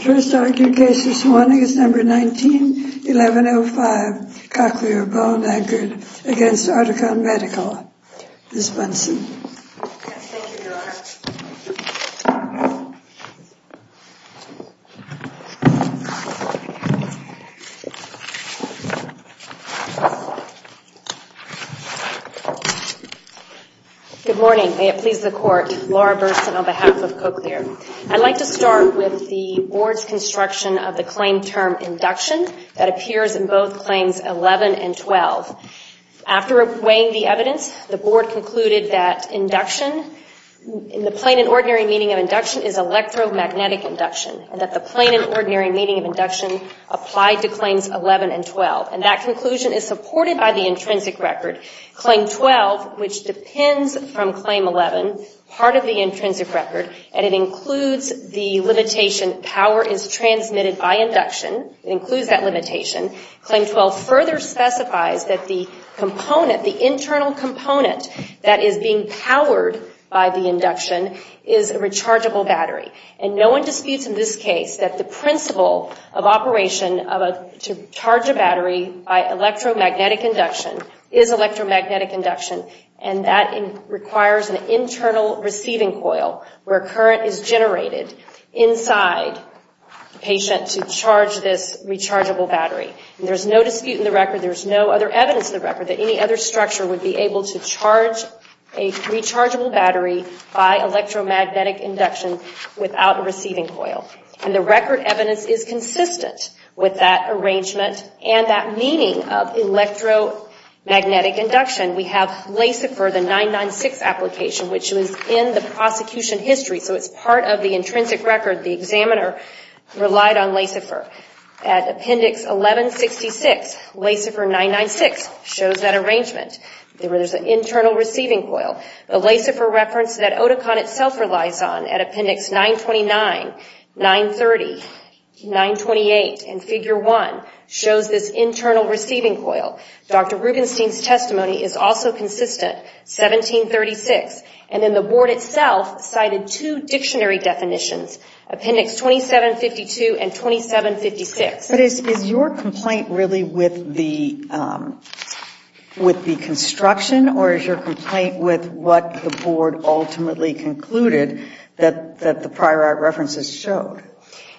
1st argued case this morning is number 19, 1105 Cochlear Bone Anchored v. Oticon Medical Good morning. May it please the court. Laura Burson on behalf of Cochlear. I'd like to start with the board's construction of the claim term induction that appears in both claims 11 and 12. After weighing the evidence, the board concluded that induction in the plain and ordinary meaning of induction is electromagnetic induction, and that the plain and ordinary meaning of induction applied to claims 11 and 12. And that conclusion is supported by the intrinsic record. Claim 12, which depends from claim 11, part of the intrinsic record, and it includes the limitation power is transmitted by induction. It includes that limitation. Claim 12 further specifies that the component, the internal component that is being powered by the induction is a rechargeable battery. And no one disputes in this case that the principle of operation to charge a battery by electromagnetic induction is electromagnetic induction, and that requires an internal receiving coil where current is generated inside the patient to charge this rechargeable battery. And there's no dispute in the record, there's no other evidence in the record that any other structure would be able to charge a rechargeable battery by electromagnetic induction without a receiving coil. And the record evidence is consistent with that arrangement and that meaning of electromagnetic induction. We have LACIFER, the 996 application, which was in the prosecution history, so it's part of the intrinsic record. The examiner relied on LACIFER. At Appendix 1166, LACIFER 996 shows that arrangement. There is an internal receiving coil. The LACIFER reference that Oticon itself relies on at Appendix 929, 930, 928, and Figure 1 shows this internal receiving coil. Dr. Rubenstein's testimony is also consistent, 1736, and then the board itself cited two dictionary definitions, Appendix 2752 and 2756. But is your complaint really with the construction or is your complaint with what the board ultimately concluded that the prior art references showed?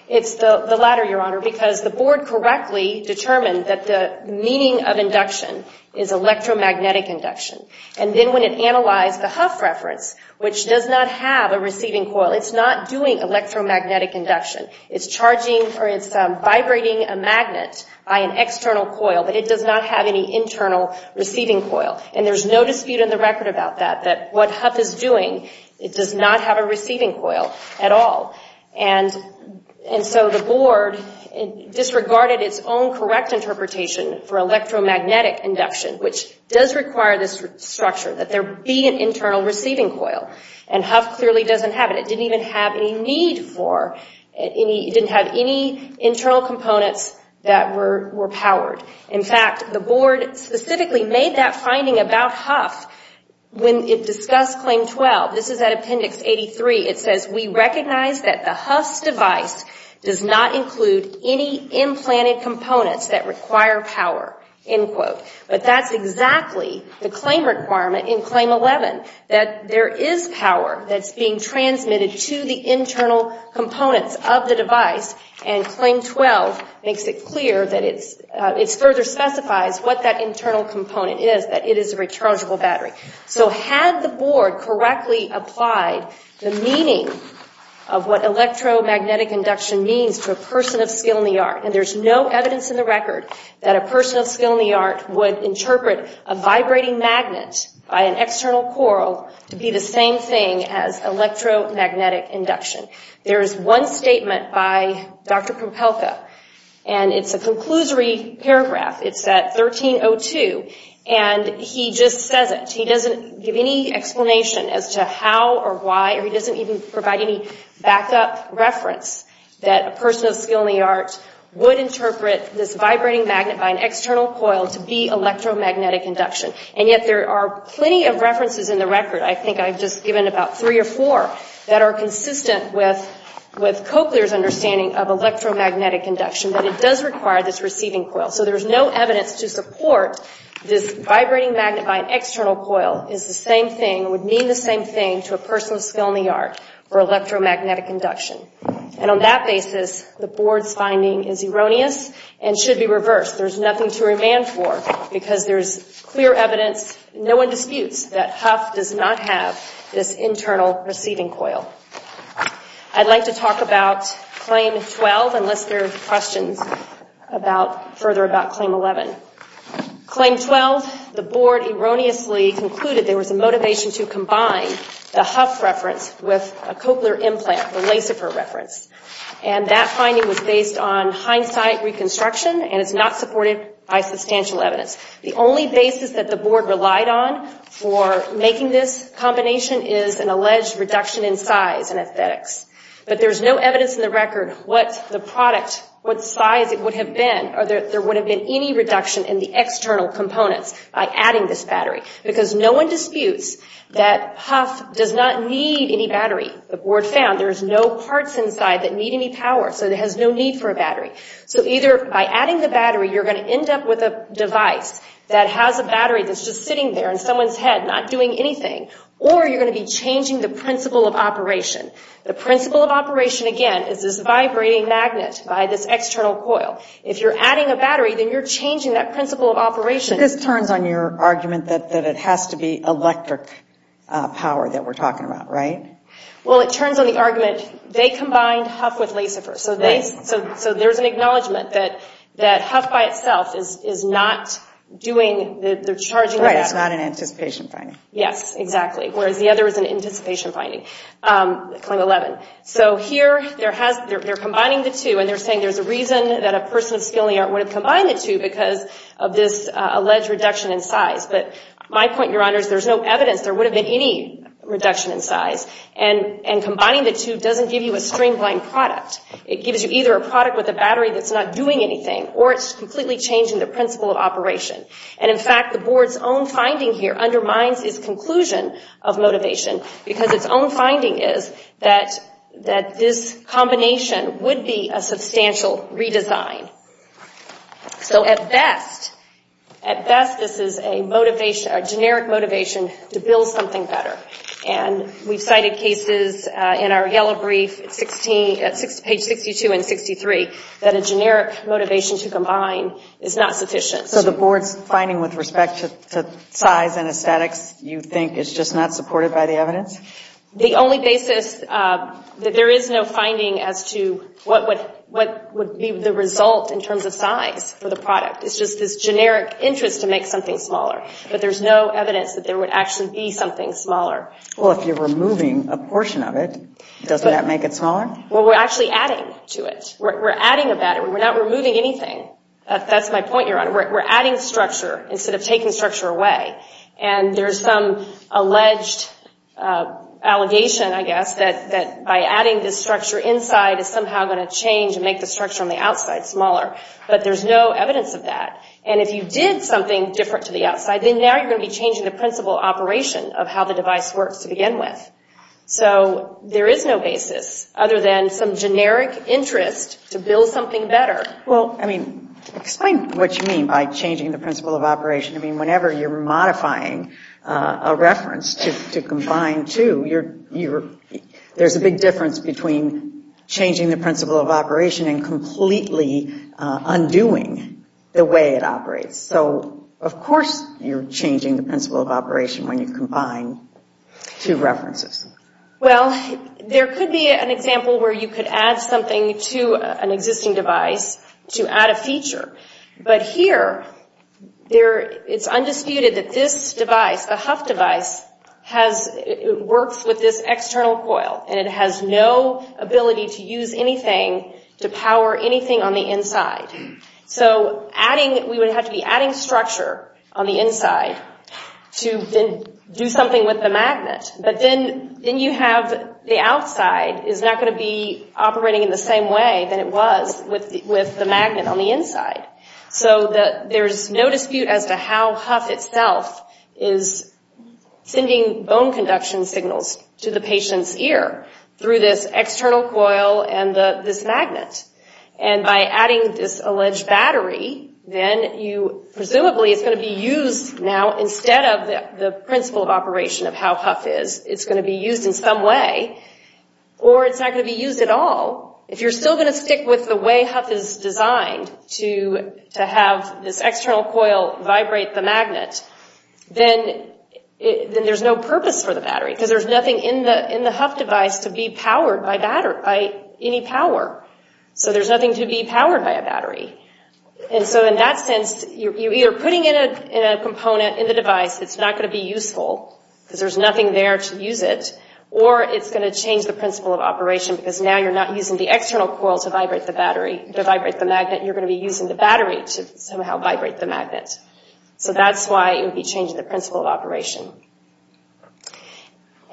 It's the latter, Your Honor, because the board correctly determined that the meaning of induction is electromagnetic induction. And then when it analyzed the Hough reference, which does not have a receiving coil, it's not doing electromagnetic induction. It's charging or it's vibrating a magnet by an external coil, but it does not have any internal receiving coil. And there's no dispute in the record about that, that what Hough is doing, it does not have a receiving coil at all. And so the board disregarded its own correct interpretation for electromagnetic induction, which does require this structure, that there be an internal receiving coil. And Hough clearly doesn't have it. It didn't even have any need for, it didn't have any internal components that were powered. In fact, the board specifically made that finding about Hough when it discussed Claim 12. This is at Appendix 83. It says, we recognize that the Hough's device does not include any implanted components that require power, end quote. But that's exactly the claim requirement in Claim 11, that there is power that's being transmitted to the internal components of the device. And Claim 12 makes it clear that it further specifies what that internal component is, that it is a rechargeable battery. So had the board correctly applied the meaning of what electromagnetic induction means to a person of skill in the art, and there's no evidence in the record that a person of skill in the art would interpret a vibrating magnet by an external coil to be the same thing as electromagnetic induction. There is one statement by Dr. Propelka, and it's a conclusory paragraph. It's at 1302, and he just says it. He doesn't give any explanation as to how or why, or he doesn't even provide any backup reference that a person of skill in the art would interpret this vibrating magnet by an external coil to be electromagnetic induction. And yet there are plenty of references in the record, I think I've just given about three or four, that are consistent with Cochlear's understanding of electromagnetic induction, that it does require this receiving coil. So there's no evidence to support this vibrating magnet by an external coil is the same thing, would mean the same thing to a person of skill in the art for electromagnetic induction. And on that basis, the board's finding is erroneous and should be reversed. There's nothing to remand for, because there's clear evidence, no one disputes, that Hough does not have this internal receiving coil. I'd like to talk about Claim 12, unless there are questions further about Claim 11. Claim 12, the board erroneously concluded there was a motivation to combine the Hough reference with a Cochlear implant, and that finding was based on hindsight reconstruction and is not supported by substantial evidence. The only basis that the board relied on for making this combination is an alleged reduction in size and aesthetics. But there's no evidence in the record what the product, what size it would have been, or that there would have been any reduction in the external components by adding this battery. Because no one disputes that Hough does not need any battery. The board found there's no parts inside that need any power, so it has no need for a battery. So either by adding the battery, you're going to end up with a device that has a battery that's just sitting there in someone's head, not doing anything, or you're going to be changing the principle of operation. The principle of operation, again, is this vibrating magnet by this external coil. If you're adding a battery, then you're changing that principle of operation. This turns on your argument that it has to be electric power that we're talking about, right? Well, it turns on the argument, they combined Hough with Lasifer, so there's an acknowledgment that Hough by itself is not doing, they're charging the battery. Right, it's not an anticipation finding. Yes, exactly, whereas the other is an anticipation finding, claim 11. So here, they're combining the two, and they're saying there's a reason that a person of skilling would have combined the two because of this alleged reduction in size. But my point, Your Honors, there's no evidence there would have been any reduction in size, and combining the two doesn't give you a streamlined product. It gives you either a product with a battery that's not doing anything, or it's completely changing the principle of operation. And in fact, the Board's own finding here undermines its conclusion of motivation, because its own finding is that this combination would be a substantial redesign. So at best, at best, this is a motivation, a generic motivation to build something better. And we've cited cases in our yellow brief, page 62 and 63, that a generic motivation to combine is not sufficient. So the Board's finding with respect to size and aesthetics you think is just not supported by the evidence? The only basis that there is no finding as to what would be the result in terms of size for the product. It's just this generic interest to make something smaller. But there's no evidence that there would actually be something smaller. Well, if you're removing a portion of it, doesn't that make it smaller? Well, we're actually adding to it. We're adding a battery. We're not removing anything. That's my point, Your Honor. We're adding structure instead of taking structure away. And there's some alleged allegation, I guess, that by adding this structure inside is somehow going to change and make the structure on the outside smaller. But there's no evidence of that. And if you did something different to the outside, then now you're going to be changing the principle of operation of how the device works to begin with. So there is no basis other than some generic interest to build something better. Well, I mean, explain what you mean by changing the principle of operation. I mean, whenever you're modifying a reference to combine two, there's a big difference between changing the principle of operation and completely undoing the way it operates. So, of course, you're changing the principle of operation when you combine two references. Well, there could be an example where you could add something to an existing device to add a feature. But here, it's undisputed that this device, the Huff device, works with this external coil. And it has no ability to use anything to power anything on the inside. So we would have to be adding structure on the inside to do something with the magnet. But then you have the outside is not going to be operating in the same way that it was with the magnet on the inside. So there is no dispute as to how Huff itself is sending bone conduction signals to the patient's ear through this external coil and this magnet. And by adding this alleged battery, then presumably it's going to be used now, the principle of operation of how Huff is, it's going to be used in some way, or it's not going to be used at all. If you're still going to stick with the way Huff is designed to have this external coil vibrate the magnet, then there's no purpose for the battery because there's nothing in the Huff device to be powered by any power. So there's nothing to be powered by a battery. And so in that sense, you're either putting in a component in the device that's not going to be useful because there's nothing there to use it, or it's going to change the principle of operation because now you're not using the external coil to vibrate the magnet, you're going to be using the battery to somehow vibrate the magnet. So that's why it would be changing the principle of operation.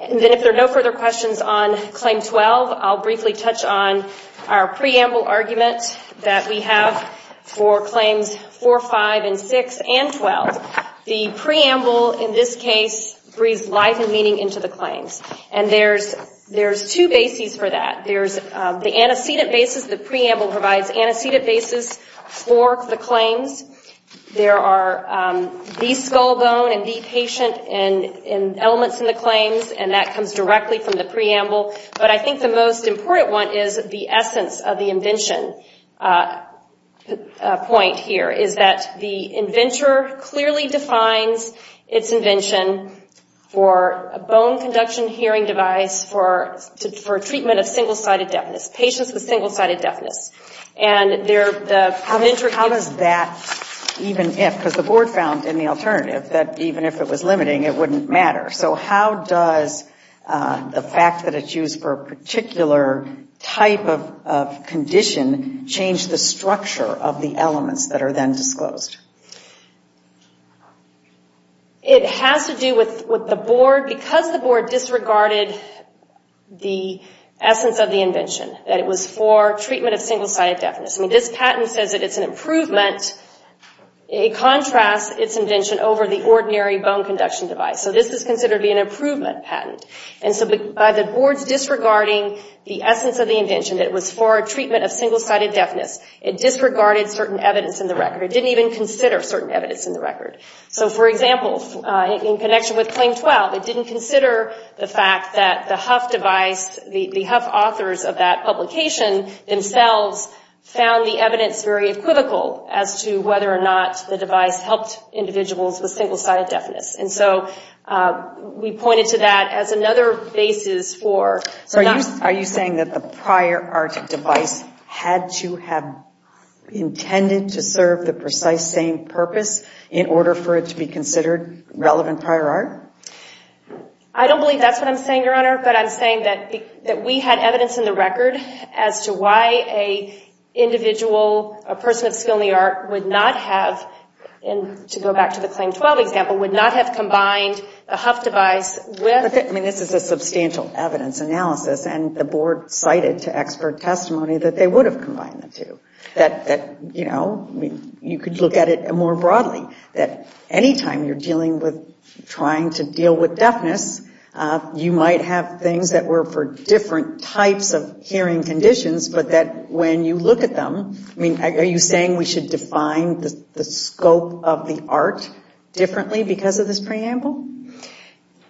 And then if there are no further questions on Claim 12, I'll briefly touch on our preamble argument that we have for Claims 4, 5, and 6 and 12. The preamble in this case breathes life and meaning into the claims. And there's two bases for that. There's the antecedent basis. The preamble provides antecedent basis for the claims. There are the skull bone and the patient elements in the claims, and that comes directly from the preamble. But I think the most important one is the essence of the invention point here, is that the inventor clearly defines its invention for a bone conduction hearing device for treatment of single-sided deafness, patients with single-sided deafness. And the inventor... How does that, even if, because the board found in the alternative that even if it was limiting, it wouldn't matter. So how does the fact that it's used for a particular type of condition change the structure of the elements that are then disclosed? It has to do with the board. Because the board disregarded the essence of the invention, that it was for treatment of single-sided deafness. I mean, this patent says that it's an improvement. It contrasts its invention over the ordinary bone conduction device. So this is considered to be an improvement patent. And so by the board's disregarding the essence of the invention, that it was for treatment of single-sided deafness, it disregarded certain evidence in the record. It didn't even consider certain evidence in the record. So, for example, in connection with Claim 12, it didn't consider the fact that the Huff device, the Huff authors of that publication themselves, found the evidence very equivocal as to whether or not the device helped individuals with single-sided deafness. And so we pointed to that as another basis for not... So are you saying that the prior art device had to have intended to serve the precise same purpose in order for it to be considered relevant prior art? I don't believe that's what I'm saying, Your Honor. But I'm saying that we had evidence in the record as to why an individual, a person of skill in the art, would not have, and to go back to the Claim 12 example, would not have combined the Huff device with... I mean, this is a substantial evidence analysis, and the board cited to expert testimony that they would have combined the two. That, you know, you could look at it more broadly, that any time you're dealing with trying to deal with deafness, you might have things that were for different types of hearing conditions, but that when you look at them, I mean, are you saying we should define the scope of the art differently because of this preamble?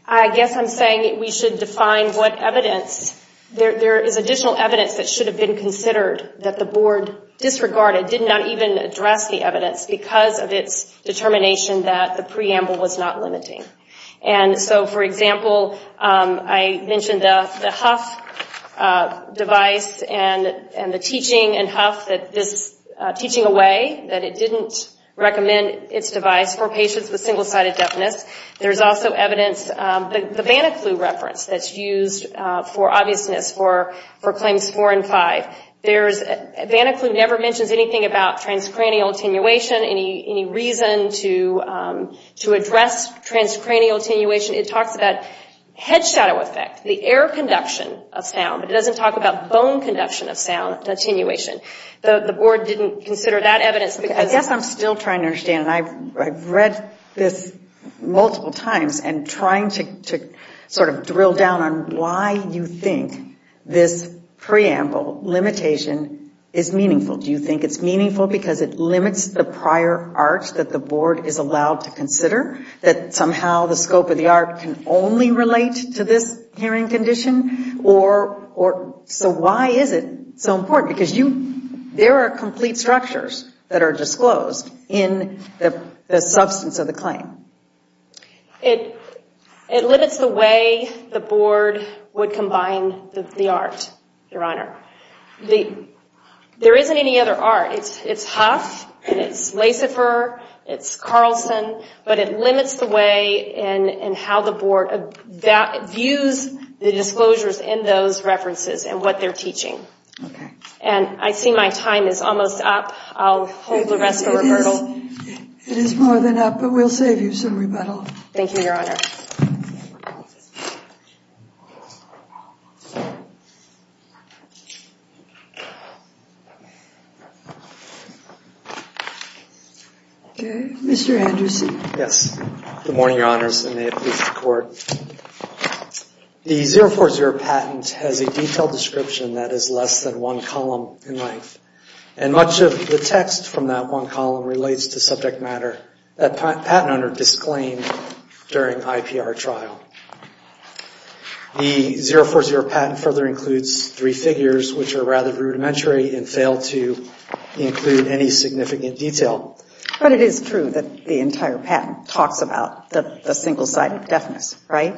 I guess I'm saying we should define what evidence... There is additional evidence that should have been considered that the board disregarded, did not even address the evidence because of its determination that the preamble was not limiting. And so, for example, I mentioned the Huff device and the teaching in Huff that this teaching away, that it didn't recommend its device for patients with single-sided deafness. There's also evidence, the Banaclue reference that's used for obviousness for Claims 4 and 5. Banaclue never mentions anything about transcranial attenuation, any reason to address transcranial attenuation. It talks about head shadow effect, the air conduction of sound, but it doesn't talk about bone conduction of sound, attenuation. The board didn't consider that evidence because... I guess I'm still trying to understand, and I've read this multiple times and trying to sort of drill down on why you think this preamble limitation is meaningful. Do you think it's meaningful because it limits the prior art that the board is allowed to consider? That somehow the scope of the art can only relate to this hearing condition? Or so why is it so important? Because there are complete structures that are disclosed in the substance of the claim. It limits the way the board would combine the art, Your Honor. There isn't any other art. It's Huff, and it's Lasifer, it's Carlson, but it limits the way and how the board views the disclosures in those references and what they're teaching. And I see my time is almost up. I'll hold the rest for rebuttal. It is more than up, but we'll save you some rebuttal. Thank you, Your Honor. Okay, Mr. Andrews. Yes. Good morning, Your Honors, and may it please the Court. The 040 patent has a detailed description that is less than one column in length, and much of the text from that one column relates to subject matter that the patent owner disclaimed during ICPSR. The 040 patent further includes three figures which are rather rudimentary and fail to include any significant detail. But it is true that the entire patent talks about the single-sided deafness, right?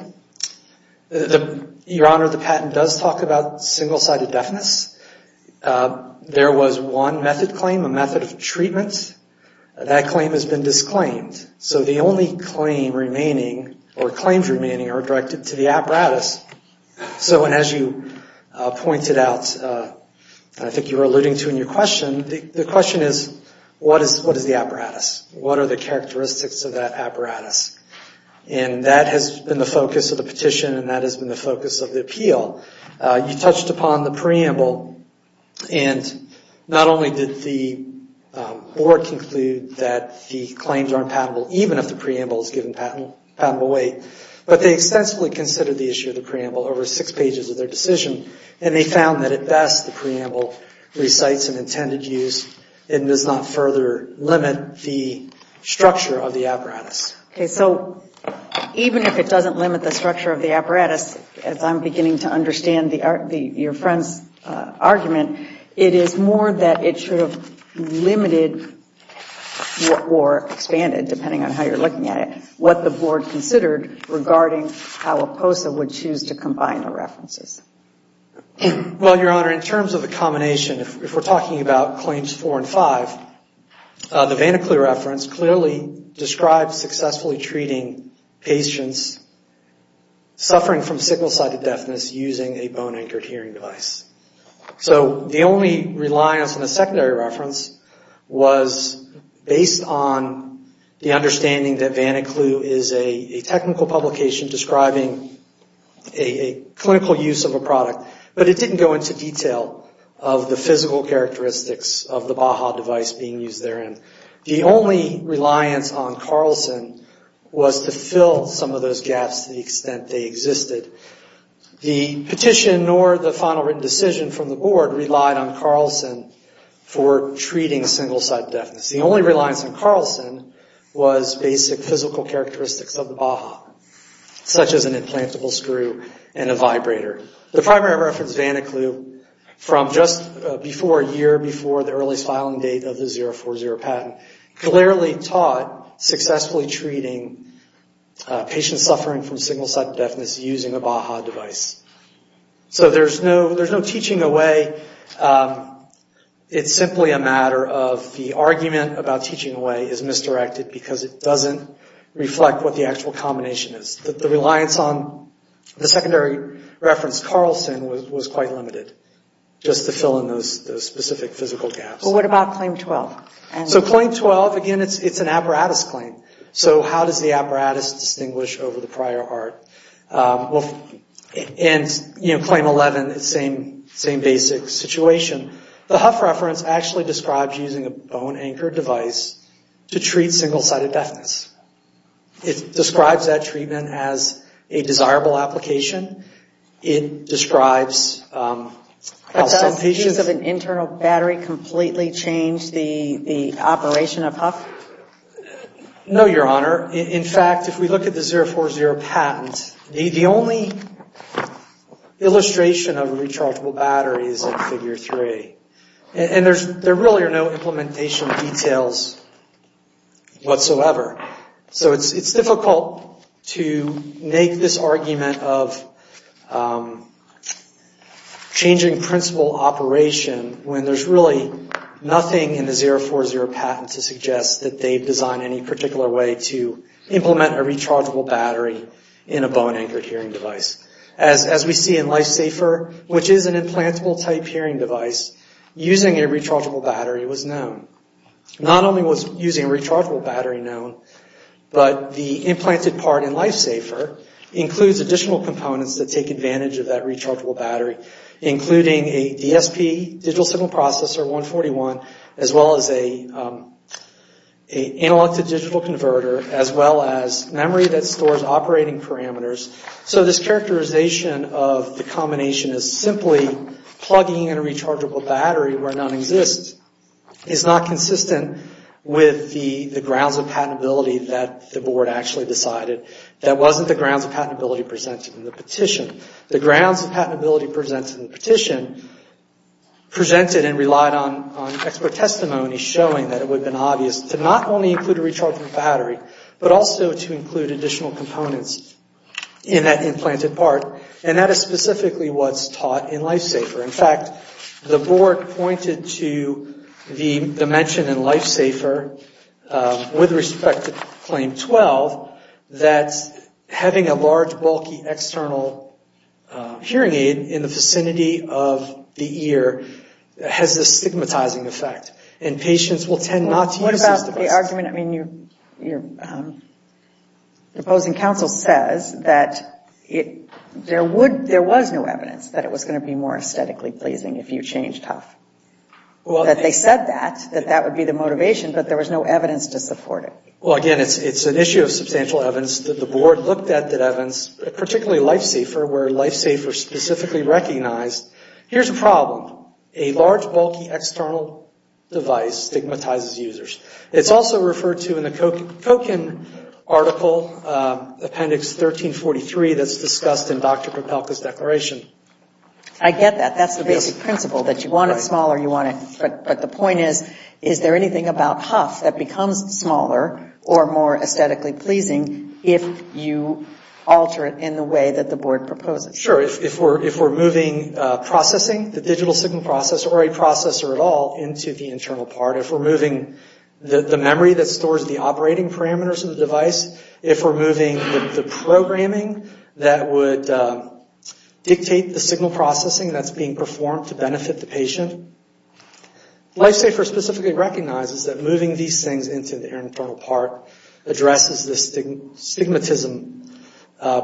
Your Honor, the patent does talk about single-sided deafness. There was one method claim, a method of treatment. That claim has been disclaimed. So the only claim remaining or claims remaining are directed to the apparatus. So as you pointed out, I think you were alluding to in your question, the question is what is the apparatus? What are the characteristics of that apparatus? And that has been the focus of the petition, and that has been the focus of the appeal. You touched upon the preamble, and not only did the board conclude that the claims are impenetrable, even if the preamble is given patentable weight, but they extensively considered the issue of the preamble over six pages of their decision, and they found that at best the preamble recites an intended use and does not further limit the structure of the apparatus. Okay, so even if it doesn't limit the structure of the apparatus, as I'm beginning to understand your friend's argument, it is more that it should have limited or expanded, depending on how you're looking at it, what the board considered regarding how APOSA would choose to combine the references. Well, Your Honor, in terms of the combination, if we're talking about claims four and five, the Vaniclu reference clearly describes successfully treating patients suffering from sickle-sided deafness using a bone-anchored hearing device. So the only reliance on the secondary reference was based on the understanding that Vaniclu is a technical publication describing a clinical use of a product, but it didn't go into detail of the physical characteristics of the Baha device being used therein. The only reliance on Carlson was to fill some of those gaps to the extent they existed. The petition nor the final written decision from the board relied on Carlson for treating single-sided deafness. The only reliance on Carlson was basic physical characteristics of the Baha, such as an implantable screw and a vibrator. The primary reference, Vaniclu, from just before a year, before the earliest filing date of the 040 patent, clearly taught successfully treating patients suffering from single-sided deafness using a Baha device. So there's no teaching away. It's simply a matter of the argument about teaching away is misdirected because it doesn't reflect what the actual combination is. The reliance on the secondary reference Carlson was quite limited, just to fill in those specific physical gaps. But what about Claim 12? So Claim 12, again, it's an apparatus claim. So how does the apparatus distinguish over the prior art? And, you know, Claim 11, same basic situation. The Hough reference actually describes using a bone-anchored device to treat single-sided deafness. It describes that treatment as a desirable application. It describes how some patients... But does the use of an internal battery completely change the operation of Hough? No, Your Honor. In fact, if we look at the 040 patent, the only illustration of a rechargeable battery is in Figure 3. And there really are no implementation details whatsoever. So it's difficult to make this argument of changing principle operation when there's really nothing in the 040 patent to suggest that they've designed any particular way to implement a rechargeable battery in a bone-anchored hearing device. As we see in LifeSafer, which is an implantable-type hearing device, using a rechargeable battery was known. Not only was using a rechargeable battery known, but the implanted part in LifeSafer includes additional components that take advantage of that rechargeable battery, including a DSP, digital signal processor, 141, as well as an analog-to-digital converter, as well as memory that stores operating parameters. So this characterization of the combination as simply plugging in a rechargeable battery where none exists is not consistent with the grounds of patentability that the Board actually decided. That wasn't the grounds of patentability presented in the petition. The grounds of patentability presented in the petition presented and relied on expert testimony showing that it would have been obvious to not only include a rechargeable battery, but also to include additional components in that implanted part, and that is specifically what's taught in LifeSafer. In fact, the Board pointed to the mention in LifeSafer with respect to Claim 12 that having a large, bulky external hearing aid in the vicinity of the ear has a stigmatizing effect, and patients will tend not to use this device. Your argument, I mean, your opposing counsel says that there would, there was no evidence that it was going to be more aesthetically pleasing if you changed HUF. That they said that, that that would be the motivation, but there was no evidence to support it. Well, again, it's an issue of substantial evidence. The Board looked at that evidence, particularly LifeSafer, where LifeSafer specifically recognized, here's a problem. A large, bulky external device stigmatizes users. It's also referred to in the Koken article, Appendix 1343, that's discussed in Dr. Propelka's declaration. I get that. That's the basic principle, that you want it smaller, you want it, but the point is, is there anything about HUF that becomes smaller or more aesthetically pleasing if you alter it in the way that the Board proposes? Sure. If we're moving processing, the digital signal processor, or a processor at all, into the internal part. If we're moving the memory that stores the operating parameters of the device. If we're moving the programming that would dictate the signal processing that's being performed to benefit the patient. LifeSafer specifically recognizes that moving these things into the internal part addresses this stigmatism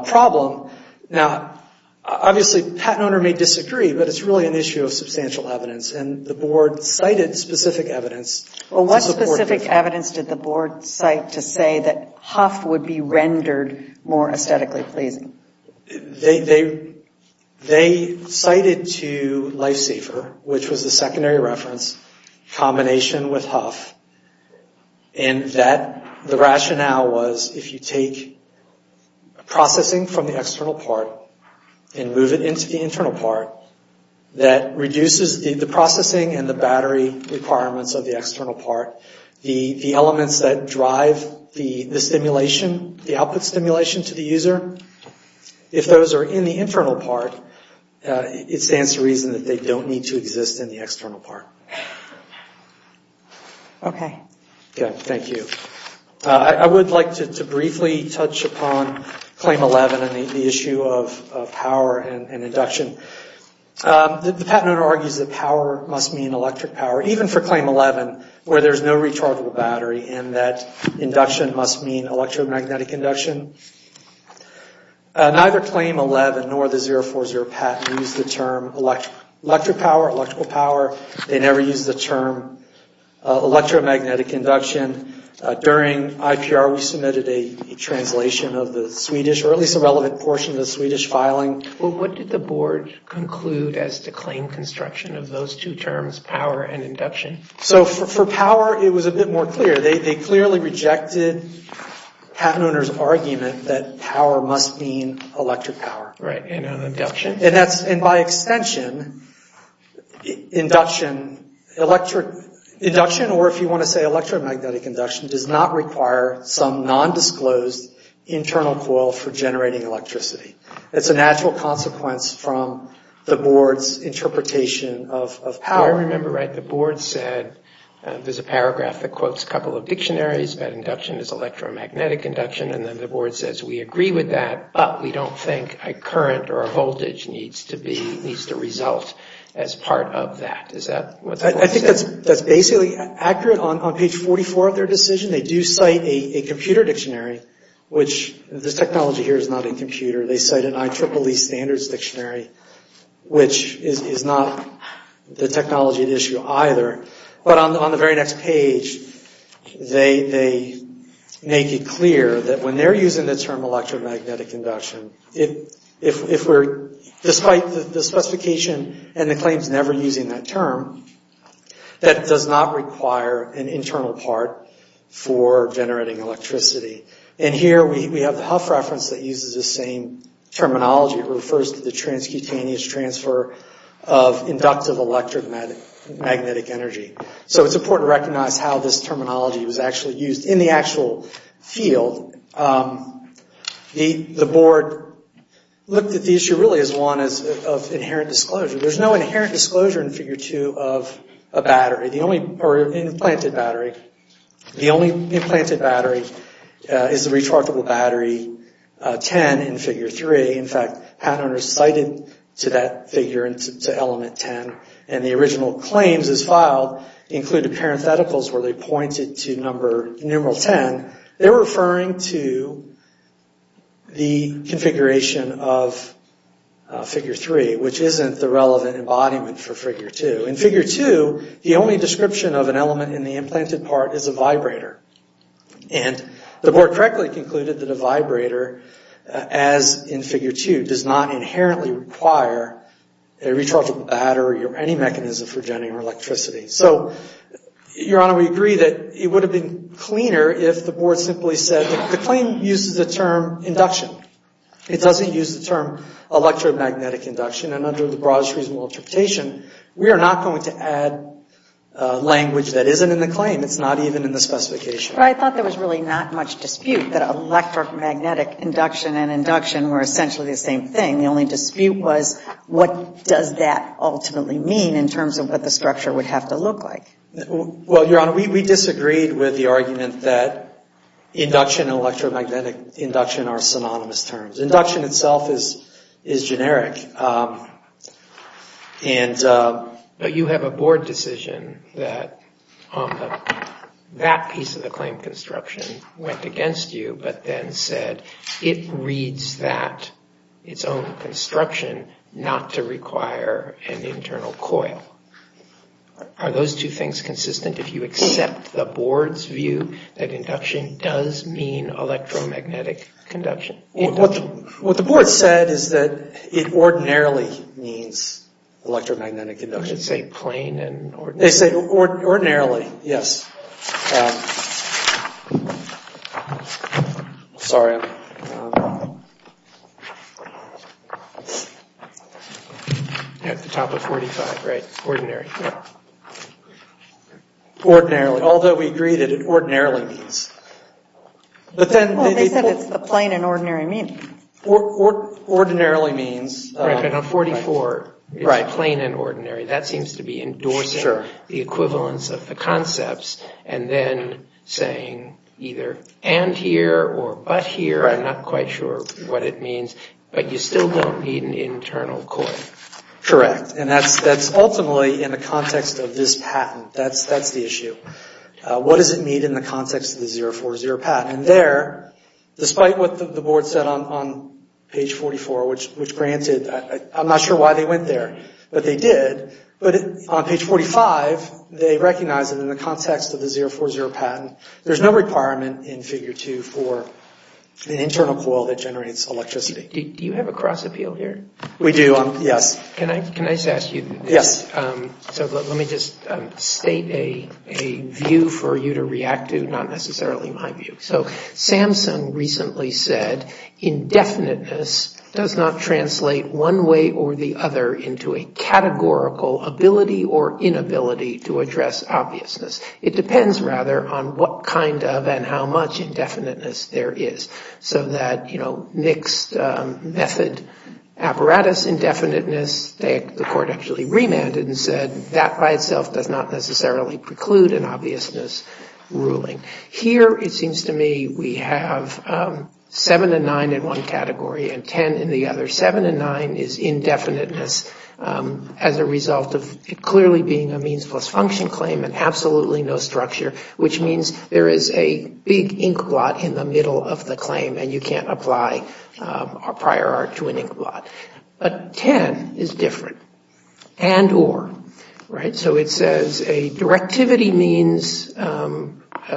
problem. Now, obviously, patent owner may disagree, but it's really an issue of substantial evidence. And the Board cited specific evidence. What specific evidence did the Board cite to say that HUF would be rendered more aesthetically pleasing? They cited to LifeSafer, which was the secondary reference, combination with HUF, and that the rationale was, if you take processing from the external part and move it into the internal part, that reduces the processing and the battery requirements of the external part. The elements that drive the stimulation, the output stimulation to the user, if those are in the internal part, it stands to reason that they don't need to exist in the external part. Okay. Thank you. I would like to briefly touch upon Claim 11 and the issue of power and induction. The patent owner argues that power must mean electric power, even for Claim 11, where there's no rechargeable battery, and that induction must mean electromagnetic induction. Neither Claim 11 nor the 040 patent use the term electric power, electrical power. They never use the term electromagnetic induction. During IPR, we submitted a translation of the Swedish, or at least a relevant portion of the Swedish filing. What did the Board conclude as to Claim construction of those two terms, power and induction? For power, it was a bit more clear. They clearly rejected the patent owner's argument that power must mean electric power. Right, and induction. And by extension, induction, or if you want to say electromagnetic induction, does not require some nondisclosed internal coil for generating electricity. It's a natural consequence from the Board's interpretation of power. I remember the Board said, there's a paragraph that quotes a couple of dictionaries that induction is electromagnetic induction, and then the Board says we agree with that, but we don't think a current or a voltage needs to result as part of that. Is that what that quote said? I think that's basically accurate. On page 44 of their decision, they do cite a computer dictionary, which this technology here is not a computer. They cite an IEEE standards dictionary, which is not the technology at issue either. But on the very next page, they make it clear that when they're using the term electromagnetic induction, if we're, despite the specification and the claims never using that term, that does not require an internal part for generating electricity. And here we have the Hough reference that uses the same terminology. It refers to the transcutaneous transfer of inductive electromagnetic energy. So it's important to recognize how this terminology was actually used. In the actual field, the Board looked at the issue really as one of inherent disclosure. There's no inherent disclosure in Figure 2 of a battery, or an implanted battery. The only implanted battery is the rechargeable battery 10 in Figure 3. In fact, Hannon recited to that figure, to element 10, and the original claims as filed included parentheticals where they pointed to numeral 10, they're referring to the configuration of Figure 3, which isn't the relevant embodiment for Figure 2. In Figure 2, the only description of an element in the implanted part is a vibrator. And the Board correctly concluded that a vibrator, as in Figure 2, does not inherently require a rechargeable battery or any mechanism for generating electricity. So, Your Honor, we agree that it would have been cleaner if the Board simply said, the claim uses the term induction. It doesn't use the term electromagnetic induction. And under the broadest reasonable interpretation, we are not going to add language that isn't in the claim. It's not even in the specification. But I thought there was really not much dispute that electromagnetic induction and induction were essentially the same thing. The only dispute was, what does that ultimately mean in terms of what the structure would have to look like? Well, Your Honor, we disagreed with the argument that induction and electromagnetic induction are synonymous terms. Induction itself is generic. But you have a Board decision that that piece of the claim construction went against you, but then said it reads that its own construction not to require an internal coil. Are those two things consistent if you accept the Board's view that induction does mean electromagnetic conduction? What the Board said is that it ordinarily means electromagnetic induction. I should say plain and ordinary. They say ordinarily, yes. Sorry. At the top of 45, right, ordinary. Ordinarily, although we agree that it ordinarily means. They said it's the plain and ordinary meaning. Ordinarily means. Right, but on 44, it's plain and ordinary. That seems to be endorsing the equivalence of the concepts and then saying either and here or but here. I'm not quite sure what it means. But you still don't need an internal coil. Correct. And that's ultimately in the context of this patent. That's the issue. What does it mean in the context of the 040 patent? And there, despite what the Board said on page 44, which granted, I'm not sure why they went there, but they did. But on page 45, they recognized that in the context of the 040 patent, there's no requirement in Figure 2 for an internal coil that generates electricity. Do you have a cross appeal here? We do. Yes. Can I just ask you? Yes. So let me just state a view for you to react to, not necessarily my view. So Samsung recently said indefiniteness does not translate one way or the other into a categorical ability or inability to address obviousness. It depends, rather, on what kind of and how much indefiniteness there is. So that Nick's method apparatus indefiniteness, the court actually remanded and said, that by itself does not necessarily preclude an obviousness ruling. Here, it seems to me, we have 7 and 9 in one category and 10 in the other. 7 and 9 is indefiniteness as a result of it clearly being a means plus function claim and absolutely no structure, which means there is a big inkblot in the middle of the claim and you can't apply prior art to an inkblot. But 10 is different. And or. Right? So it says a directivity means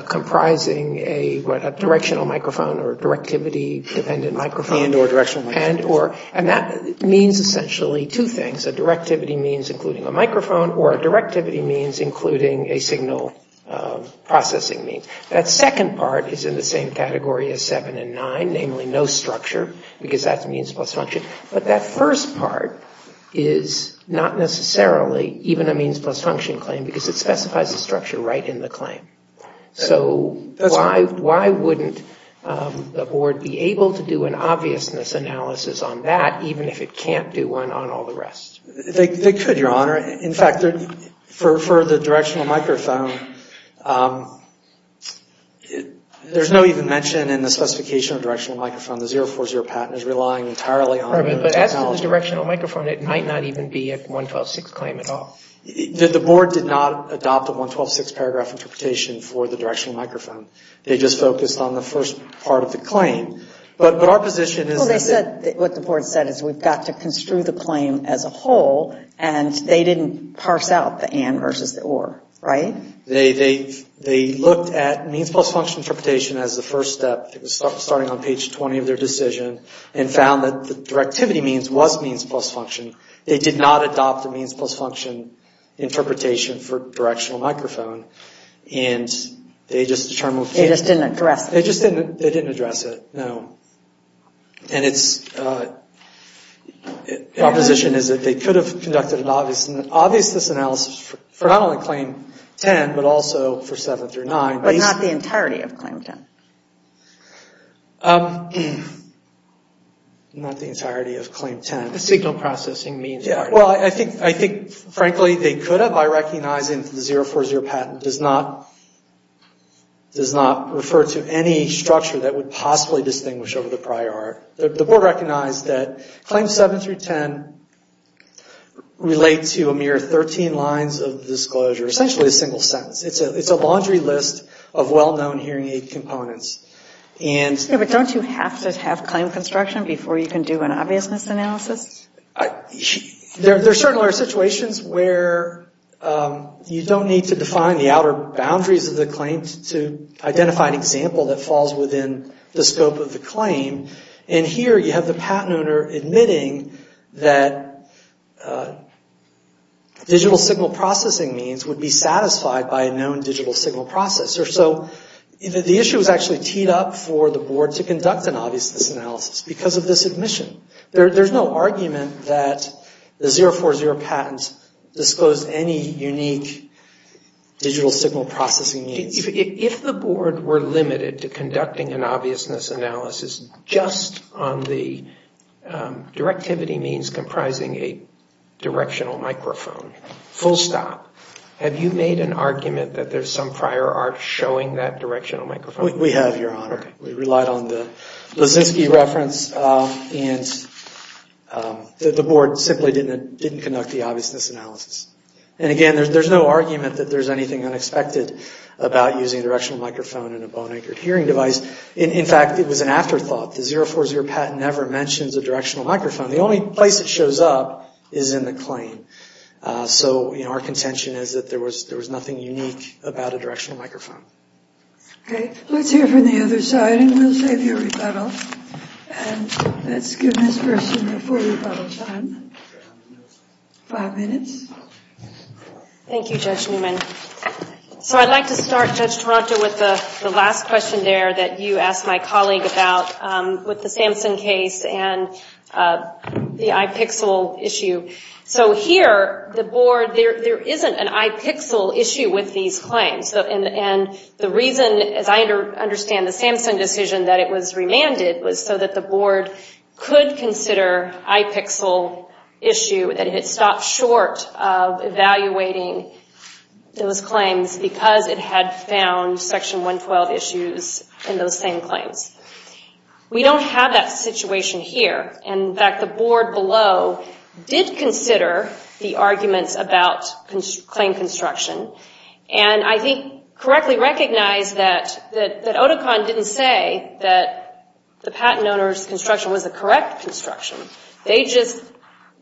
comprising a directional microphone or a directivity-dependent microphone. And or directional microphone. And or. And that means essentially two things. A directivity means including a microphone or a directivity means including a signal processing means. That second part is in the same category as 7 and 9, namely no structure, because that's means plus function. But that first part is not necessarily even a means plus function claim because it specifies a structure right in the claim. So why wouldn't the board be able to do an obviousness analysis on that even if it can't do one on all the rest? They could, Your Honor. In fact, for the directional microphone, there's no even mention in the specification of directional microphone. The 040 patent is relying entirely on the technology. But as for the directional microphone, it might not even be a 112.6 claim at all. The board did not adopt a 112.6 paragraph interpretation for the directional microphone. They just focused on the first part of the claim. But our position is that they. Well, they said what the board said is we've got to construe the claim as a whole. And they didn't parse out the and versus the or. Right? They looked at means plus function interpretation as the first step. It was starting on page 20 of their decision and found that the directivity means was means plus function. They did not adopt a means plus function interpretation for directional microphone. And they just determined. They just didn't address it. They just didn't. They didn't address it. No. And it's. Our position is that they could have conducted an obviousness analysis for not only claim 10, but also for 7 through 9. But not the entirety of claim 10. Not the entirety of claim 10. The signal processing means. Well, I think frankly they could have. I recognize the 040 patent does not refer to any structure that would possibly distinguish over the prior. The board recognized that claims 7 through 10 relate to a mere 13 lines of disclosure. Essentially a single sentence. It's a laundry list of well-known hearing aid components. Yeah, but don't you have to have claim construction before you can do an obviousness analysis? There certainly are situations where you don't need to define the outer boundaries of the claim to identify an example that falls within the scope of the claim. And here you have the patent owner admitting that digital signal processing means would be satisfied by a known digital signal processor. So the issue is actually teed up for the board to conduct an obviousness analysis because of the submission. There's no argument that the 040 patent disclosed any unique digital signal processing means. If the board were limited to conducting an obviousness analysis just on the directivity means comprising a directional microphone, full stop. Have you made an argument that there's some prior art showing that directional microphone? We have, Your Honor. We relied on the Lisinski reference and the board simply didn't conduct the obviousness analysis. And again, there's no argument that there's anything unexpected about using a directional microphone in a bone-anchored hearing device. In fact, it was an afterthought. The 040 patent never mentions a directional microphone. The only place it shows up is in the claim. So, you know, our contention is that there was nothing unique about a directional microphone. Okay. Let's hear from the other side and we'll save you a rebuttal. And let's give this person the full rebuttal time. Five minutes. Thank you, Judge Newman. So I'd like to start, Judge Toronto, with the last question there that you asked my colleague about with the Sampson case and the iPixel issue. So here, the board, there isn't an iPixel issue with these claims. And the reason, as I understand the Sampson decision, that it was remanded was so that the board could consider iPixel issue, that it had stopped short of evaluating those claims because it had found Section 112 issues in those same claims. We don't have that situation here. And, in fact, the board below did consider the arguments about claim construction and I think correctly recognized that Oticon didn't say that the patent owner's construction was the correct construction. They just,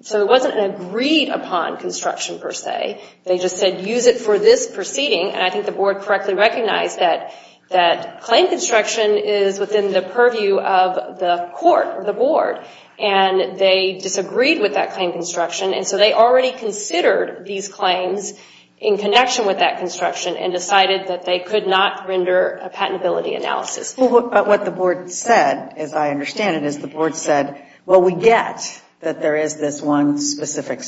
so it wasn't an agreed upon construction, per se. They just said, use it for this proceeding. And I think the board correctly recognized that claim construction is within the purview of the court or the board. And they disagreed with that claim construction. And so they already considered these claims in connection with that construction and decided that they could not render a patentability analysis. But what the board said, as I understand it, is the board said, well, we get that there is this one specific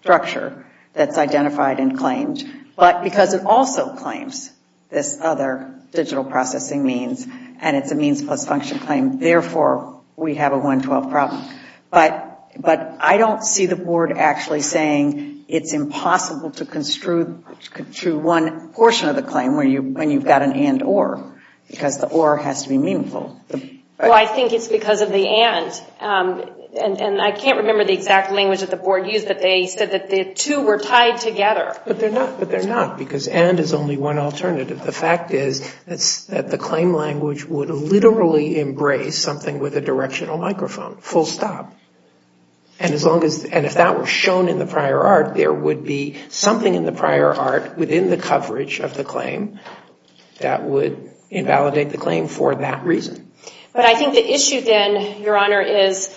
structure that's identified and claimed. But because it also claims this other digital processing means and it's a means plus function claim, therefore we have a 112 problem. But I don't see the board actually saying it's impossible to construe one portion of the claim when you've got an and or, because the or has to be meaningful. Well, I think it's because of the and. And I can't remember the exact language that the board used, but they said that the two were tied together. But they're not, because and is only one alternative. The fact is that the claim language would literally embrace something with a directional microphone, full stop. And if that was shown in the prior art, there would be something in the prior art within the coverage of the claim that would invalidate the claim for that reason. But I think the issue then, Your Honor, is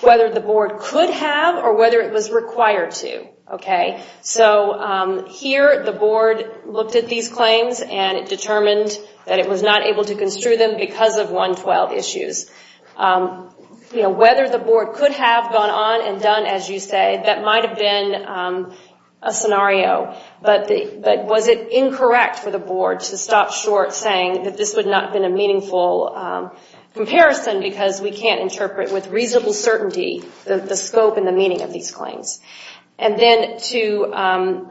whether the board could have or whether it was required to. Okay. So here the board looked at these claims and it determined that it was not able to construe them because of 112 issues. You know, whether the board could have gone on and done as you say, that might have been a scenario. But was it incorrect for the board to stop short saying that this would not have been a meaningful comparison because we can't interpret with reasonable certainty the scope and the meaning of these claims. And then to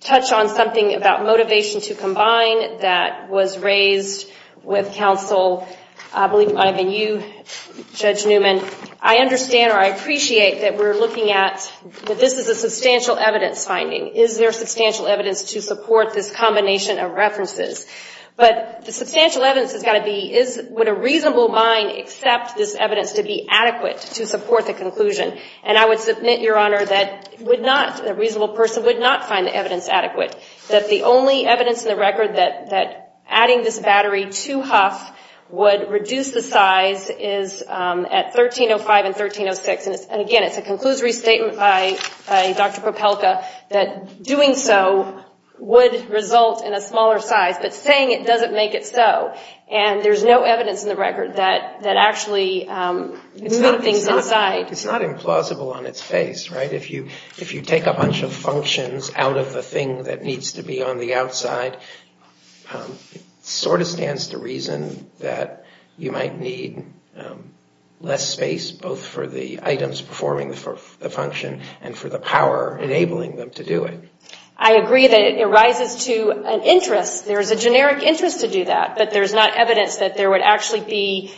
touch on something about motivation to combine that was raised with counsel, I believe it might have been you, Judge Newman, I understand or I appreciate that we're looking at, that this is a substantial evidence finding. Is there substantial evidence to support this combination of references? But the substantial evidence has got to be, would a reasonable mind accept this evidence to be adequate to support the conclusion? And I would submit, Your Honor, that would not, a reasonable person would not find the evidence adequate. That the only evidence in the record that adding this battery to Huff would reduce the size is at 1305 and 1306. And again, it's a conclusory statement by Dr. Popelka that doing so would result in a smaller size. But saying it doesn't make it so. And there's no evidence in the record that actually moved things inside. It's not implausible on its face, right? If you take a bunch of functions out of the thing that needs to be on the outside, it sort of stands to reason that you might need less space both for the items performing the function and for the power enabling them to do it. I agree that it rises to an interest. There is a generic interest to do that. But there's not evidence that there would actually be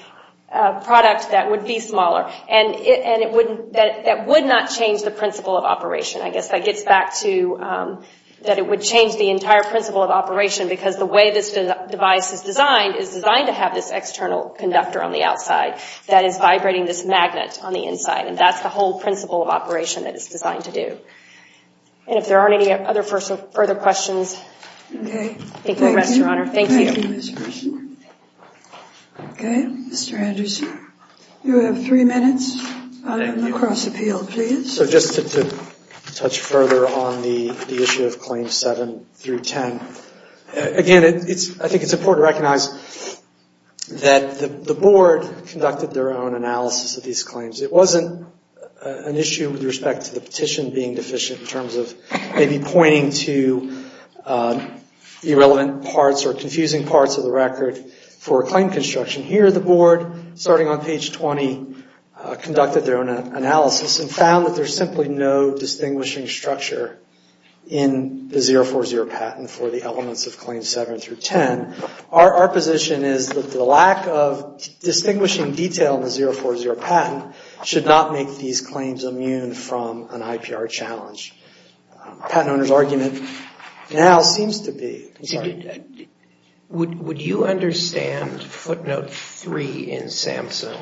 a product that would be smaller. And that would not change the principle of operation. I guess that gets back to that it would change the entire principle of operation. Because the way this device is designed is designed to have this external conductor on the outside that is vibrating this magnet on the inside. And that's the whole principle of operation that it's designed to do. And if there aren't any other further questions, I think we'll rest, Your Honor. Thank you. Thank you, Mr. Anderson. Okay, Mr. Anderson. You have three minutes on the cross-appeal, please. So just to touch further on the issue of Claims 7 through 10. Again, I think it's important to recognize that the Board conducted their own analysis of these claims. It wasn't an issue with respect to the petition being deficient in terms of maybe pointing to irrelevant parts or confusing parts of the record for a claim construction. Here the Board, starting on page 20, conducted their own analysis and found that there's simply no distinguishing structure in the 040 patent for the elements of Claims 7 through 10. Our position is that the lack of distinguishing detail in the 040 patent should not make these claims immune from an IPR challenge. The patent owner's argument now seems to be... Would you understand footnote 3 in SAMHSA,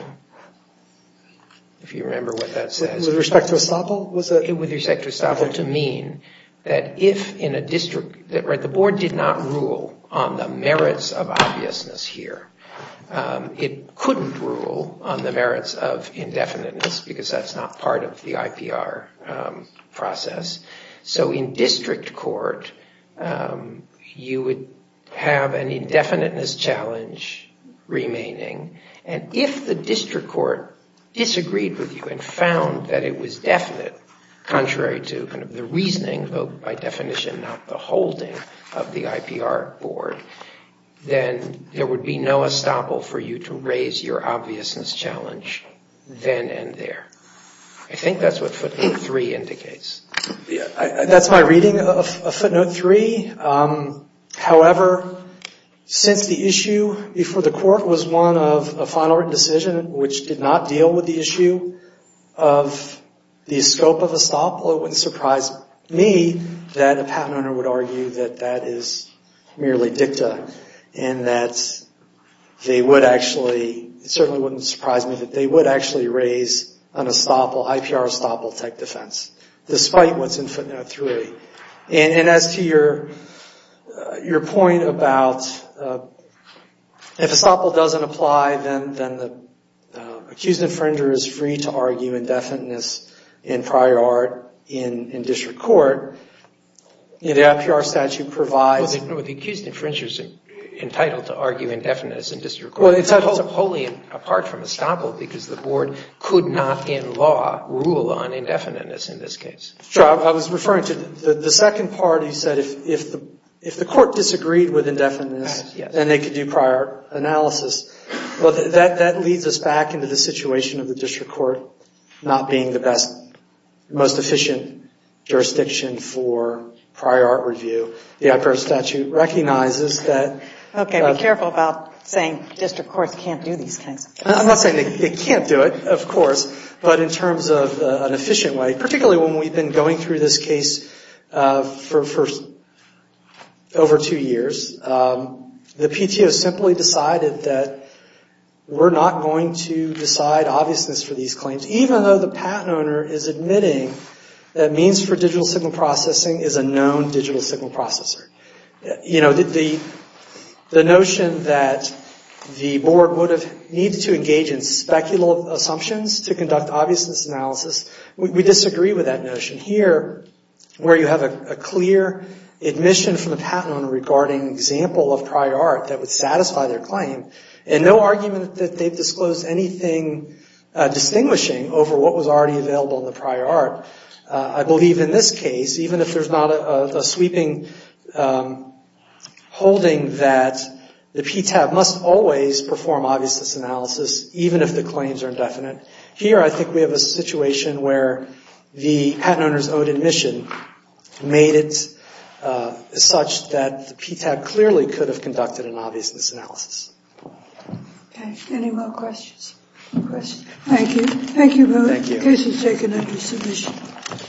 if you remember what that says? With respect to Estoppel? With respect to Estoppel, to mean that if in a district... The Board did not rule on the merits of obviousness here. It couldn't rule on the merits of indefiniteness because that's not part of the IPR process. So in district court, you would have an indefiniteness challenge remaining. And if the district court disagreed with you and found that it was definite, contrary to the reasoning, by definition not the holding of the IPR Board, then there would be no Estoppel for you to raise your obviousness challenge then and there. I think that's what footnote 3 indicates. That's my reading of footnote 3. However, since the issue before the court was one of a final written decision, which did not deal with the issue of the scope of Estoppel, it wouldn't surprise me that a patent owner would argue that that is merely dicta and that they would actually... It certainly wouldn't surprise me that they would actually raise an Estoppel, IPR Estoppel type defense, despite what's in footnote 3. And as to your point about if Estoppel doesn't apply, then the accused infringer is free to argue indefiniteness in prior art in district court. The IPR statute provides... Well, the accused infringer is entitled to argue indefiniteness in district court. Well, it's a wholly apart from Estoppel because the Board could not in law rule on indefiniteness in this case. Sure. I was referring to the second part. You said if the court disagreed with indefiniteness, then they could do prior analysis. Well, that leads us back into the situation of the district court not being the best, most efficient jurisdiction for prior art review. The IPR statute recognizes that... Okay, be careful about saying district courts can't do these things. I'm not saying they can't do it, of course, but in terms of an efficient way, particularly when we've been going through this case for over two years, the PTO simply decided that we're not going to decide obviousness for these claims, even though the patent owner is admitting that means for digital signal processing is a known digital signal processor. You know, the notion that the Board would have needed to engage in speculative assumptions to conduct obviousness analysis, we disagree with that notion. Here, where you have a clear admission from the patent owner regarding an example of prior art that would satisfy their claim and no argument that they've disclosed anything distinguishing over what was already available in the prior art, I believe in this case, even if there's not a sweeping holding that the PTAB must always perform obviousness analysis, even if the claims are indefinite. Here, I think we have a situation where the patent owner's own admission made it such that the PTAB clearly could have conducted an obviousness analysis. Okay, any more questions? Thank you. Thank you both. The case is taken under submission.